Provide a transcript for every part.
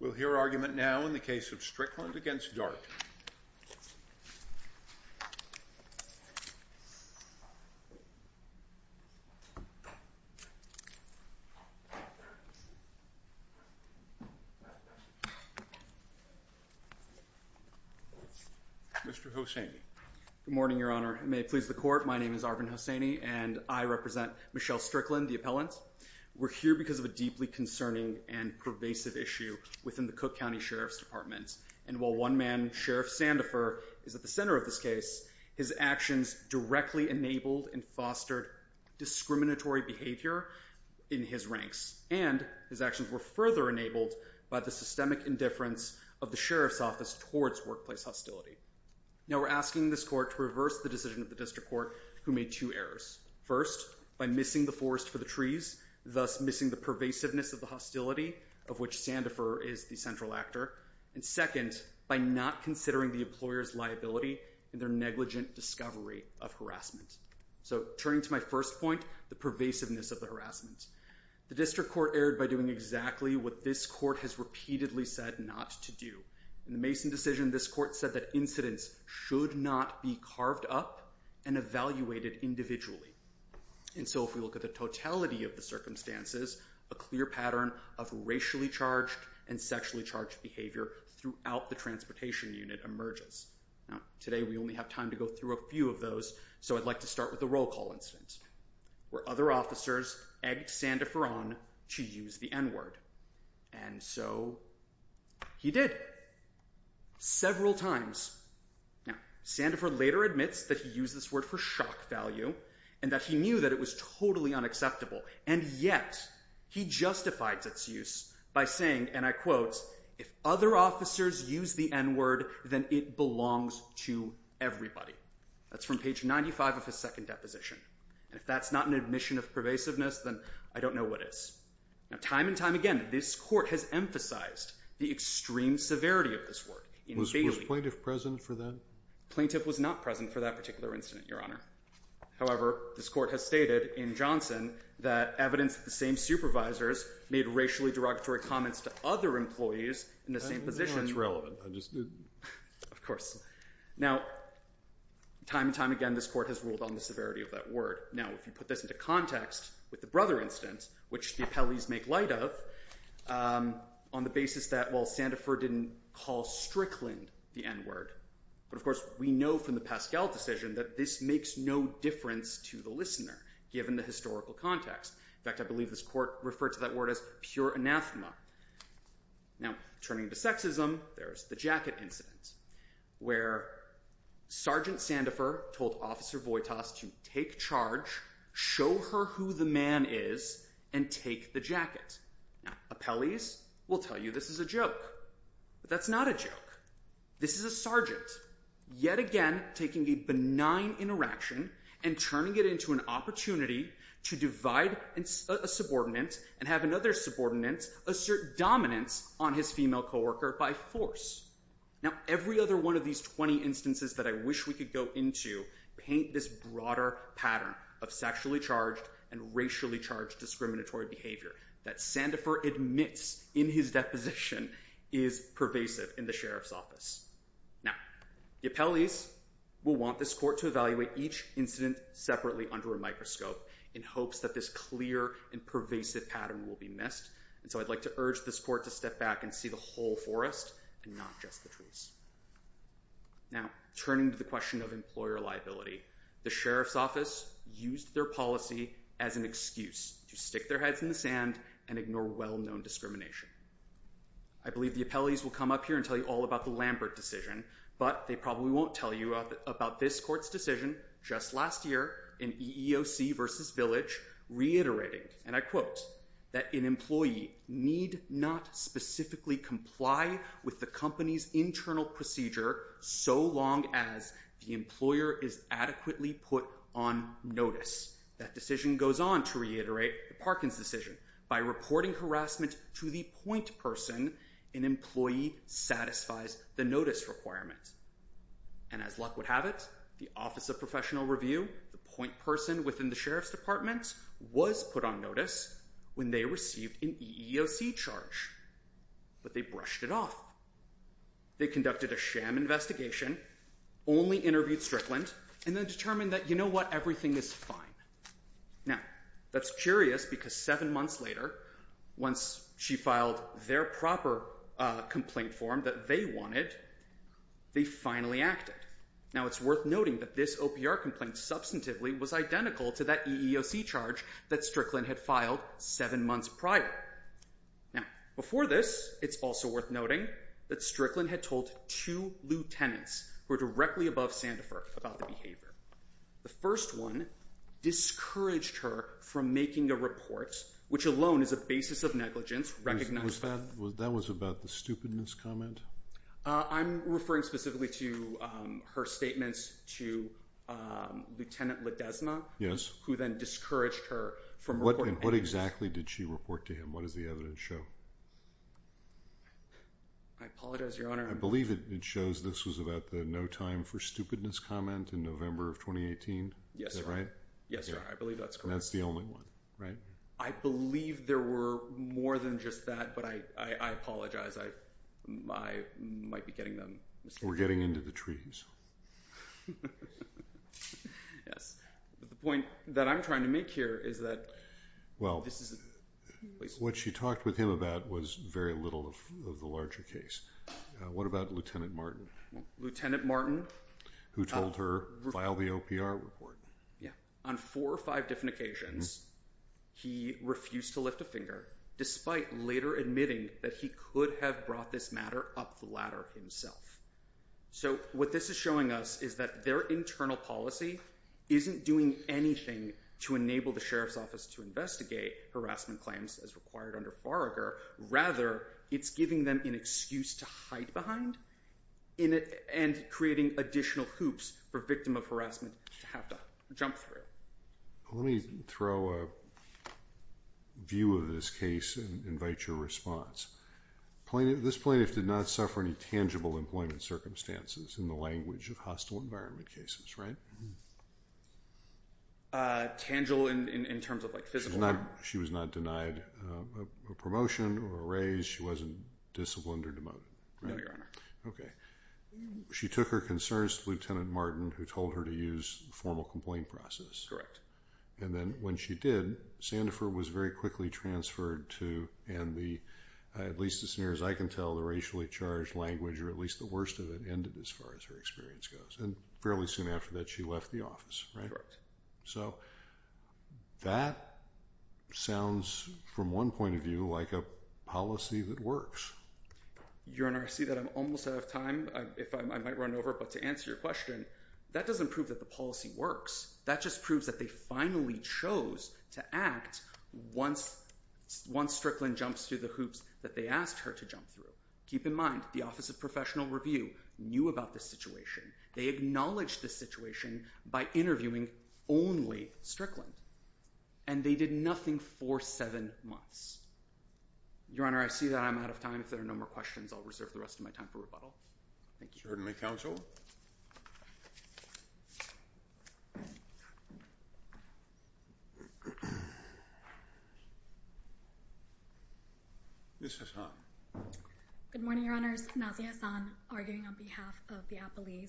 We'll hear argument now in the case of Strickland v. Dart. Mr. Hosseini. Good morning, Your Honor. May it please the Court, my name is Arvin Hosseini and I represent Michelle Strickland, the appellant. We're here because of a deeply concerning and pervasive issue within the Cook County Sheriff's Department. And while one man, Sheriff Sandifer, is at the center of this case, his actions directly enabled and fostered discriminatory behavior in his ranks. And his actions were further enabled by the systemic indifference of the Sheriff's Office towards workplace hostility. Now we're asking this Court to reverse the decision of the District Court who made two errors. First, by missing the forest for the trees, thus missing the pervasiveness of the hostility, of which Sandifer is the central actor. And second, by not considering the employer's liability in their negligent discovery of harassment. So turning to my first point, the pervasiveness of the harassment. The District Court erred by doing exactly what this Court has repeatedly said not to do. In the Mason decision, this Court said that incidents should not be carved up and evaluated individually. And so if we look at the totality of the circumstances, a clear pattern of racially charged and sexually charged behavior throughout the transportation unit emerges. Now, today we only have time to go through a few of those, so I'd like to start with the roll call incident, where other officers egged Sandifer on to use the N-word. And so he did. Several times. Now, Sandifer later admits that he used this word for shock value, and that he knew that it was totally unacceptable. And yet, he justified its use by saying, and I quote, if other officers use the N-word, then it belongs to everybody. That's from page 95 of his second deposition. And if that's not an admission of pervasiveness, then I don't know what is. Now, time and time again, this Court has emphasized the extreme severity of this word. In Bailey. Was plaintiff present for that? Plaintiff was not present for that particular incident, Your Honor. However, this Court has stated in Johnson that evidence of the same supervisors made racially derogatory comments to other employees in the same position. I don't know if that's relevant. I just didn't. Of course. Now, time and time again, this Court has ruled on the severity of that word. Now, if you put this into context with the Brother incident, which the appellees make light of, on the basis that, well, Sandefur didn't call Strickland the N-word. But of course, we know from the Pascal decision that this makes no difference to the listener, given the historical context. In fact, I believe this Court referred to that word as pure anathema. Now, turning to sexism, there's the Jacket incident, where Sergeant Sandefur told Officer Voitas to take charge, show her who the man is, and take the jacket. Now, appellees will tell you this is a joke. But that's not a joke. This is a sergeant, yet again, taking a benign interaction and turning it into an opportunity to divide a subordinate and have another subordinate assert dominance on his female coworker by force. Now, every other one of these 20 instances that I wish we could go into paint this broader pattern of sexually charged discriminatory behavior that Sandefur admits in his deposition is pervasive in the Sheriff's Office. Now, the appellees will want this Court to evaluate each incident separately under a microscope in hopes that this clear and pervasive pattern will be missed. And so I'd like to urge this Court to step back and see the whole forest and not just the trees. Now, turning to the question of employer liability, the Sheriff's Office used their policy as an excuse to stick their heads in the sand and ignore well-known discrimination. I believe the appellees will come up here and tell you all about the Lambert decision, but they probably won't tell you about this Court's decision just last year in EEOC v. Village, reiterating, and I quote, that an employee need not specifically comply with the company's internal procedure so long as the employer is adequately put on notice. That decision goes on to reiterate the Parkins decision. By reporting harassment to the point person, an employee satisfies the notice requirement. And as luck would have it, the Office of Professional Review, the point person within the Sheriff's Department, was put on notice when they received an EEOC charge, but they brushed it off. They conducted a sham investigation, only interviewed Strickland, and then determined that, you know what, everything is fine. Now, that's curious because seven months later, once she filed their proper complaint form that they wanted, they finally acted. Now, it's worth noting that this OPR complaint substantively was identical to that complaint. Before this, it's also worth noting that Strickland had told two lieutenants who were directly above Sandifer about the behavior. The first one discouraged her from making a report, which alone is a basis of negligence recognized. That was about the stupidness comment? I'm referring specifically to her statements to Lieutenant Ledesma, who then discouraged her from reporting. What exactly did she report to him? What does the evidence show? I apologize, Your Honor. I believe it shows this was about the no time for stupidness comment in November of 2018. Yes, sir. Is that right? Yes, sir. I believe that's correct. That's the only one, right? I believe there were more than just that, but I apologize. I might be getting them. We're getting into the trees. Yes, but the point that I'm trying to make here is that this is a place where... What she talked with him about was very little of the larger case. What about Lieutenant Martin? Lieutenant Martin... Who told her, file the OPR report. Yeah. On four or five different occasions, he refused to lift a finger, despite later admitting that he could have brought this matter up the ladder himself. What this is showing us is that their internal policy isn't doing anything to enable the Sheriff's Office to investigate harassment claims as required under Farragher. Rather, it's giving them an excuse to hide behind and creating additional hoops for victim of harassment to have to jump through. Let me throw a view of this case and invite your response. This plaintiff did not suffer any tangible employment circumstances in the language of hostile environment cases, right? Tangible in terms of physical... She was not denied a promotion or a raise? She wasn't disciplined or demoted? No, Your Honor. Okay. She took her concerns to Lieutenant Martin, who told her to use formal complaint process. And then when she did, Sandifer was very quickly transferred to... And at least as near as I can tell, the racially charged language, or at least the worst of it, ended as far as her experience goes. And fairly soon after that, she left the office, right? Correct. So that sounds, from one point of view, like a policy that works. Your Honor, I see that I'm almost out of time. I might run over, but to answer your question, that doesn't prove that the policy works. That just proves that they finally chose to act once Strickland jumps through the hoops that they asked her to jump through. Keep in mind, the Office of Professional Review knew about this situation. They acknowledged the situation by interviewing only Strickland, and they did nothing for seven months. Your Honor, I see that I'm out of time. If there are no more questions, I'll reserve the rest of my time for rebuttal. Thank you. Good morning, Your Honor. Nazia Hassan, arguing on behalf of the appellees.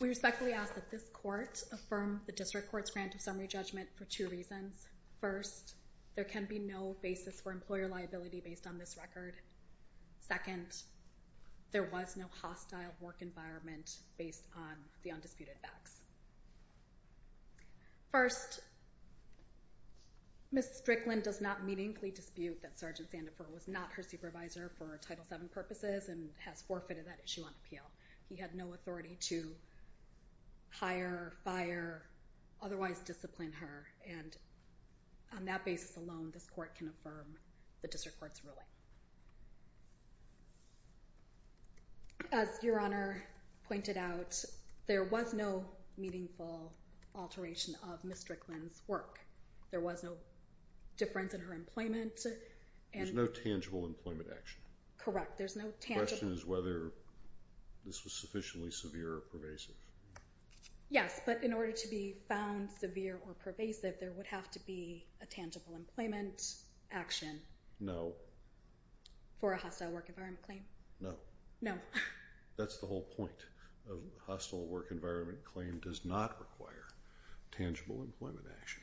We respectfully ask that this court affirm the district court's grant of summary judgment for two reasons. First, there can be no basis for employer liability based on this record. Second, there was no hostile work environment based on the undisputed facts. First, Ms. Strickland does not meaningfully dispute that Sgt. Sandifer was not her supervisor for Title VII purposes and has forfeited that issue on appeal. He had no authority to hire, fire, otherwise discipline her, and on that basis alone, this court can affirm the district court's ruling. As Your Honor pointed out, there was no meaningful alteration of Ms. Strickland's work. There was no difference in her employment. There's no tangible employment action. Correct, there's no tangible. The question is whether this was sufficiently severe or pervasive. Yes, but in order to be found severe or pervasive, there would have to be a tangible employment action. No. For a hostile work environment claim? No. No. That's the whole point. A hostile work environment claim does not require tangible employment action.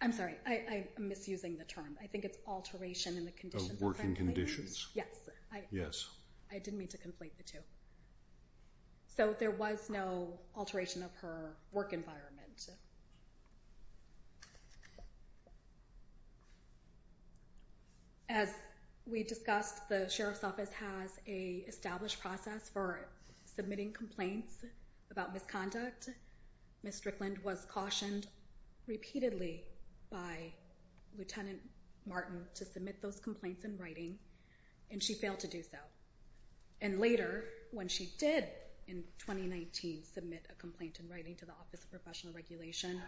I'm sorry, I'm misusing the term. I think it's alteration in the conditions. Of working conditions. Yes. Yes. I didn't mean to conflate the two. So there was no alteration of her work environment. As we discussed, the Sheriff's Office has a established process for submitting complaints about misconduct. Ms. Strickland was cautioned repeatedly by Lieutenant Martin to submit those complaints in writing, and she failed to do so. And later, when she did, in 2019, submit a complaint in writing to the Office of Professional Regulation,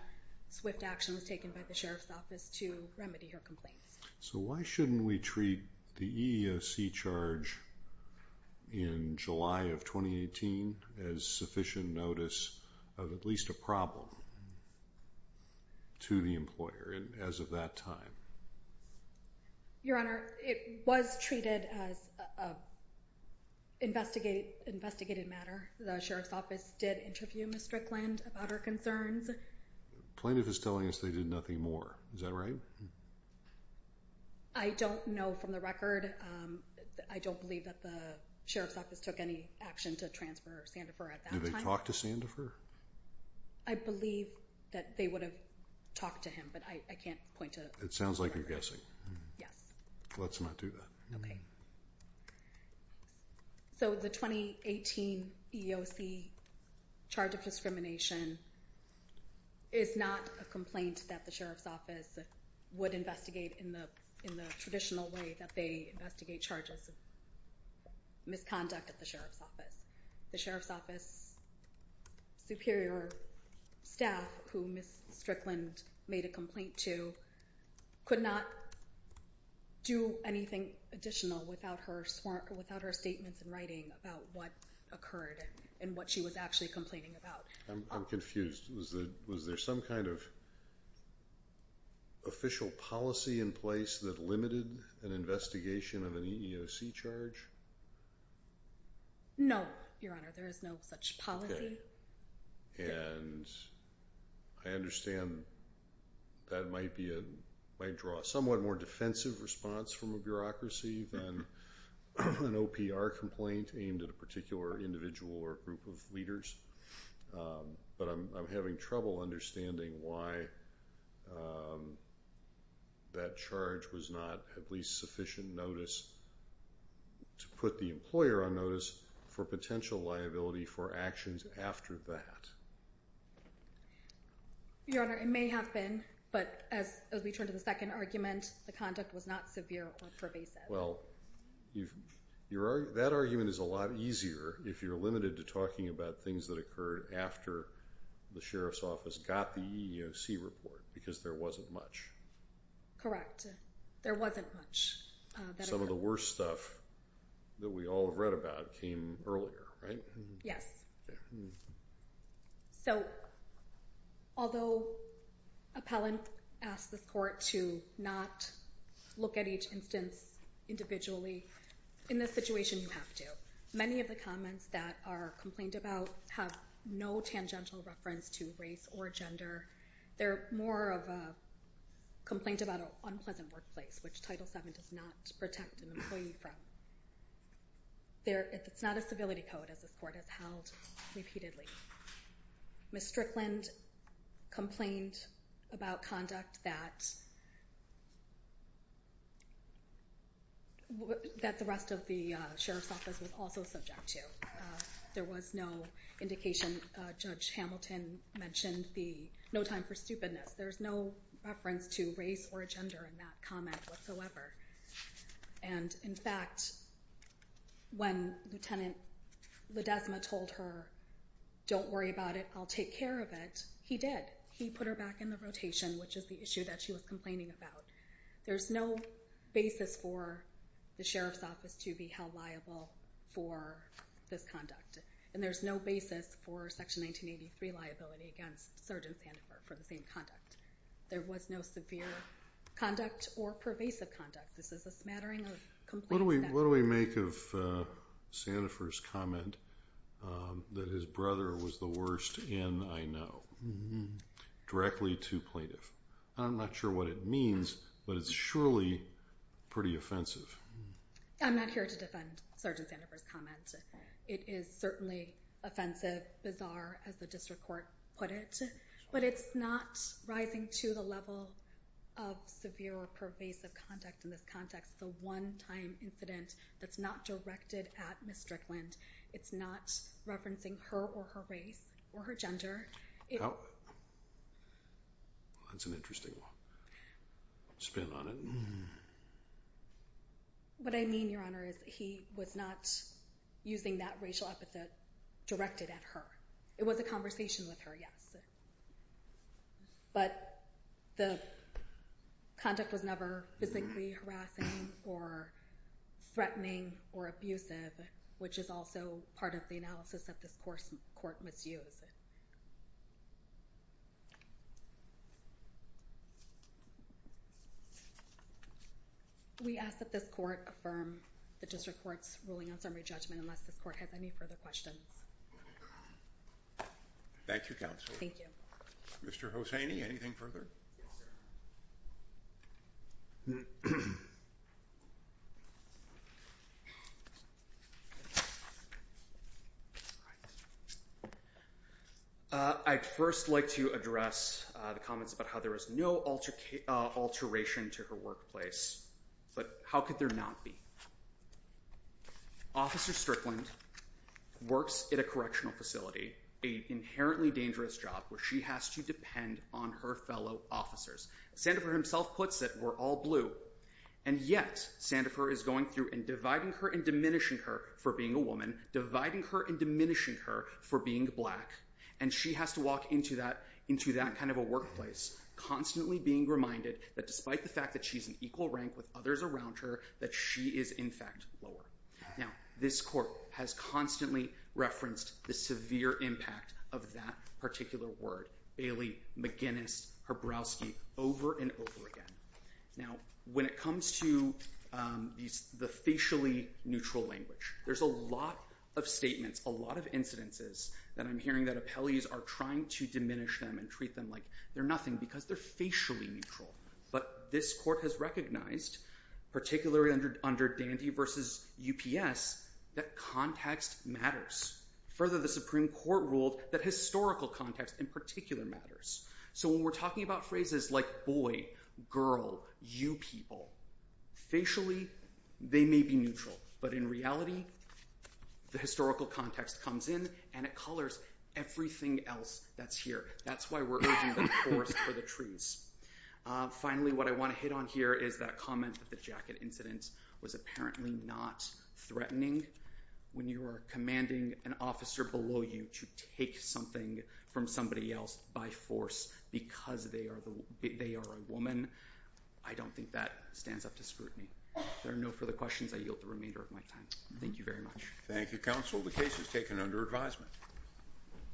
swift action was taken by the Sheriff's Office to remedy her complaints. So why shouldn't we treat the EEOC charge in July of 2018 as sufficient notice of at least a problem to the employer as of that time? Your Honor, it was treated as an investigated matter. The Sheriff's Office did interview Ms. Strickland about her concerns. Plaintiff is telling us they did nothing more. Is that right? I don't know from the record. I don't believe that the Sheriff's Office took any action to transfer Sandifer at that time. Did they talk to Sandifer? I believe that they would have talked to him, but I can't point to... It sounds like you're guessing. Yes. Let's not do that. Okay. Thanks. So the 2018 EEOC charge of discrimination is not a complaint that the Sheriff's Office would investigate in the traditional way that they investigate charges of misconduct at the Sheriff's Office. The Sheriff's Office superior staff, who Ms. Strickland made a complaint to, could not do anything additional without her statements in writing about what occurred and what she was actually complaining about. I'm confused. Was there some kind of official policy in place that limited an investigation of an EEOC charge? No, Your Honor. There is no such policy. Okay. I understand that might draw a somewhat more defensive response from a bureaucracy than an OPR complaint aimed at a particular individual or group of leaders, but I'm having trouble understanding why that charge was not at least sufficient notice to put the employer on notice for potential liability for actions after that. Your Honor, it may have been, but as we turn to the second argument, the conduct was not severe or pervasive. Well, that argument is a lot easier if you're limited to talking about things that occurred after the Sheriff's Office got the EEOC report because there wasn't much. Correct. There wasn't much. Some of the worst stuff that we all have read about came earlier, right? Yes. So although appellant asked the court to not look at each instance individually, in this situation you have to. Many of the comments that are complained about have no tangential reference to race or gender. They're more of a complaint about an unpleasant workplace, which Title VII does not protect an employee from. It's not a civility code, as this court has held repeatedly. Ms. Strickland complained about conduct that the rest of the Sheriff's Office was also subject to. There was no indication. Judge Hamilton mentioned the no time for stupidness. There's no reference to race or gender in that comment whatsoever. And in fact, when Lieutenant Ledesma told her, don't worry about it, I'll take care of it, he did. He put her back in the rotation, which is the issue that she was complaining about. There's no basis for the Sheriff's Office to be held liable for this conduct. And there's no basis for Section 1983 liability against Sgt. Sandifer for the same conduct. There was no severe conduct or pervasive conduct. This is a smattering of complaints. What do we make of Sandifer's comment that his brother was the worst in I know, directly to plaintiff? I'm not sure what it means, but it's surely pretty offensive. I'm not here to defend Sgt. Sandifer's comment. It is certainly offensive, bizarre, as the district court put it. But it's not rising to the level of severe or pervasive conduct in this context. The one time incident that's not directed at Ms. Strickland. It's not referencing her or her race or her gender. Oh, that's an interesting spin on it. What I mean, Your Honor, is he was not using that racial epithet directed at her. It was a conversation with her, yes. But the conduct was never physically harassing or threatening or abusive, which is also part of the analysis that this court must use. We ask that this court affirm the district court's ruling on summary judgment, unless this court has any further questions. Thank you, counsel. Thank you. Mr. Hossaini, anything further? Yes, sir. I'd first like to address the comments about how there was no alteration to her workplace. But how could there not be? Officer Strickland works at a correctional facility, a inherently dangerous job where she has to depend on her fellow officers. Sandifer himself puts it, we're all blue. And yet, Sandifer is going through and dividing her and diminishing her for being a woman, dividing her and diminishing her for being black. And she has to walk into that kind of a workplace, constantly being reminded that despite the fact that she's an equal rank with others around her, that she is, in fact, lower. Now, this court has constantly referenced the severe impact of that particular word, Bailey, McGinnis, Hrabowski, over and over again. Now, when it comes to the facially neutral language, there's a lot of statements, a lot of incidences that I'm hearing that appellees are trying to diminish them and treat them like they're nothing because they're facially neutral. But this court has recognized, particularly under Dandy versus UPS, that context matters. Further, the Supreme Court ruled that historical context in particular matters. So when we're talking about phrases like boy, girl, you people, facially, they may be neutral. But in reality, the historical context comes in and it colors everything else that's here. That's why we're urging the forest for the trees. Finally, what I want to hit on here is that comment that the jacket incident was apparently not threatening. When you are commanding an officer below you to take something from somebody else by force because they are a woman, I don't think that stands up to scrutiny. There are no further questions. I yield the remainder of my time. Thank you very much. Thank you, counsel. The case is taken under advisement.